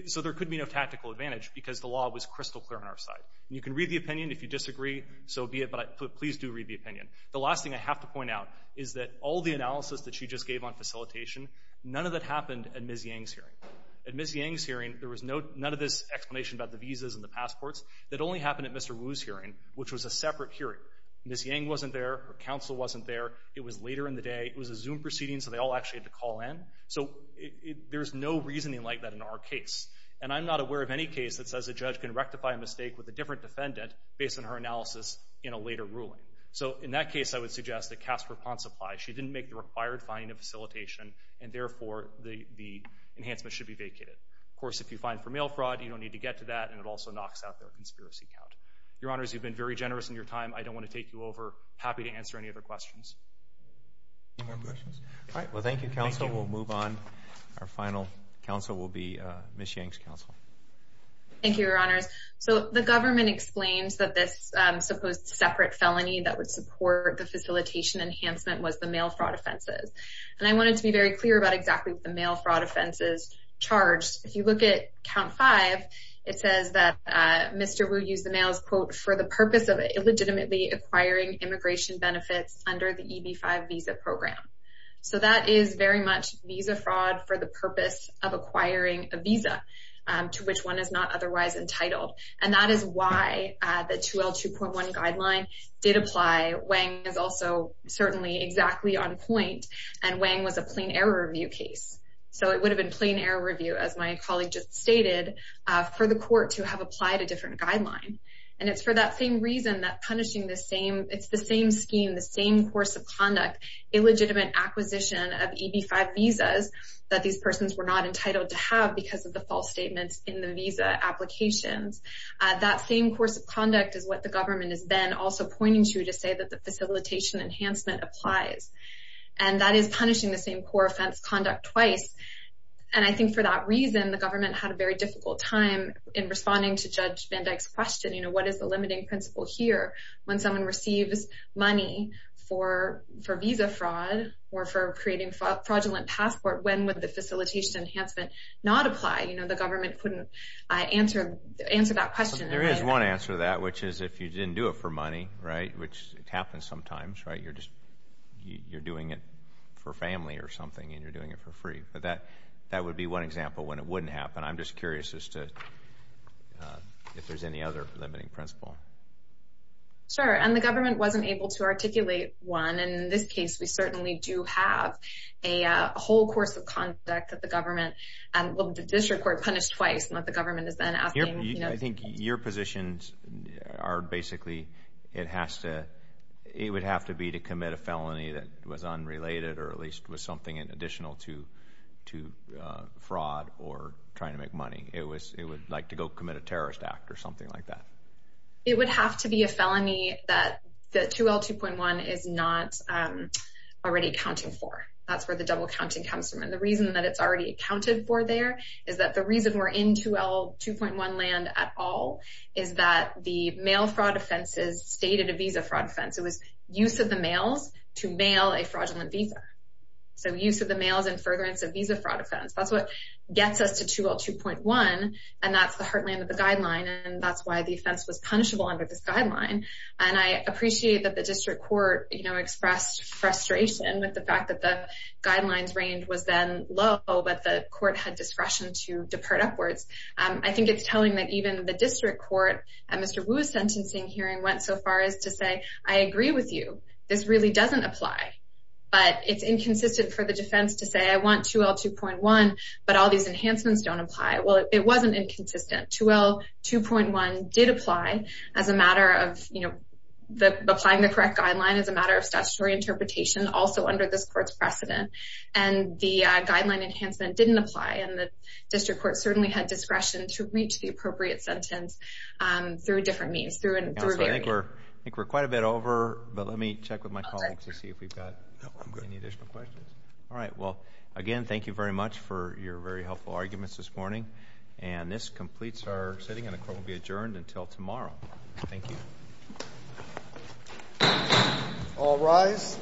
so there could be no tactical advantage because the law was crystal clear on our side. And you can read the opinion if you disagree, so be it, but please do read the opinion. The last thing I have to point out is that all the analysis that she just gave on facilitation, none of that happened at Ms. Yang's hearing. At Ms. Yang's hearing, there was none of this explanation about the visas and the passports. That only happened at Mr. Wu's hearing, which was a separate hearing. Ms. Yang wasn't there. Her counsel wasn't there. It was later in the day. It was a Zoom proceeding, so they all actually had to call in. So there's no reasoning like that in our case. And I'm not aware of any case that says a judge can rectify a mistake with a different defendant based on her analysis in a later ruling. So in that case, I would suggest that cast her upon supply. She didn't make the required finding of facilitation, and, therefore, the enhancement should be vacated. Of course, if you find for mail fraud, you don't need to get to that, and it also knocks out their conspiracy count. Your Honors, you've been very generous in your time. I don't want to take you over. Happy to answer any other questions. Any more questions? All right, well, thank you, counsel. We'll move on. Our final counsel will be Ms. Yang's counsel. Thank you, Your Honors. So the government explains that this supposed separate felony that would support the facilitation enhancement was the mail fraud offenses. And I wanted to be very clear about exactly what the mail fraud offenses charged. If you look at Count 5, it says that Mr. Wu used the mail as, quote, for the purpose of illegitimately acquiring immigration benefits under the EB-5 visa program. So that is very much visa fraud for the purpose of acquiring a visa, to which one is not otherwise entitled. And that is why the 2L2.1 guideline did apply. Wang is also certainly exactly on point, and Wang was a plain error review case. So it would have been plain error review, as my colleague just stated, for the court to have applied a different guideline. And it's for that same reason that punishing the same – it's the same scheme, the same course of conduct, illegitimate acquisition of EB-5 visas that these persons were not entitled to have because of the false statements in the visa applications. That same course of conduct is what the government has been also pointing to to say that the facilitation enhancement applies. And that is punishing the same poor offense conduct twice. And I think for that reason, the government had a very difficult time in responding to Judge Van Dyck's question, you know, what is the limiting principle here? When someone receives money for visa fraud or for creating fraudulent passport, when would the facilitation enhancement not apply? You know, the government couldn't answer that question. There is one answer to that, which is if you didn't do it for money, right, which happens sometimes, right? You're just – you're doing it for family or something, and you're doing it for free. But that would be one example when it wouldn't happen. I'm just curious as to if there's any other limiting principle. Sure. And the government wasn't able to articulate one. And in this case, we certainly do have a whole course of conduct that the government – well, the district court punished twice, and what the government has been asking. I think your positions are basically it has to – it would have to be to commit a felony that was unrelated or at least was something additional to fraud or trying to make money. It would like to go commit a terrorist act or something like that. It would have to be a felony that the 2L2.1 is not already accounting for. That's where the double counting comes from. The reason that it's already accounted for there is that the reason we're in 2L2.1 land at all is that the mail fraud offenses stated a visa fraud offense. It was use of the mails to mail a fraudulent visa. So use of the mails in furtherance of visa fraud offense. That's what gets us to 2L2.1, and that's the heartland of the guideline, and that's why the offense was punishable under this guideline. And I appreciate that the district court expressed frustration with the fact that the guidelines range was then low, but the court had discretion to depart upwards. I think it's telling that even the district court at Mr. Wu's sentencing hearing went so far as to say, I agree with you. This really doesn't apply, but it's inconsistent for the defense to say, I want 2L2.1, but all these enhancements don't apply. Well, it wasn't inconsistent. 2L2.1 did apply as a matter of applying the correct guideline, as a matter of statutory interpretation, also under this court's precedent, and the guideline enhancement didn't apply, and the district court certainly had discretion to reach the appropriate sentence through different means. I think we're quite a bit over, but let me check with my colleagues to see if we've got any additional questions. All right. Well, again, thank you very much for your very helpful arguments this morning, and this completes our sitting, and the court will be adjourned until tomorrow. Thank you. All rise.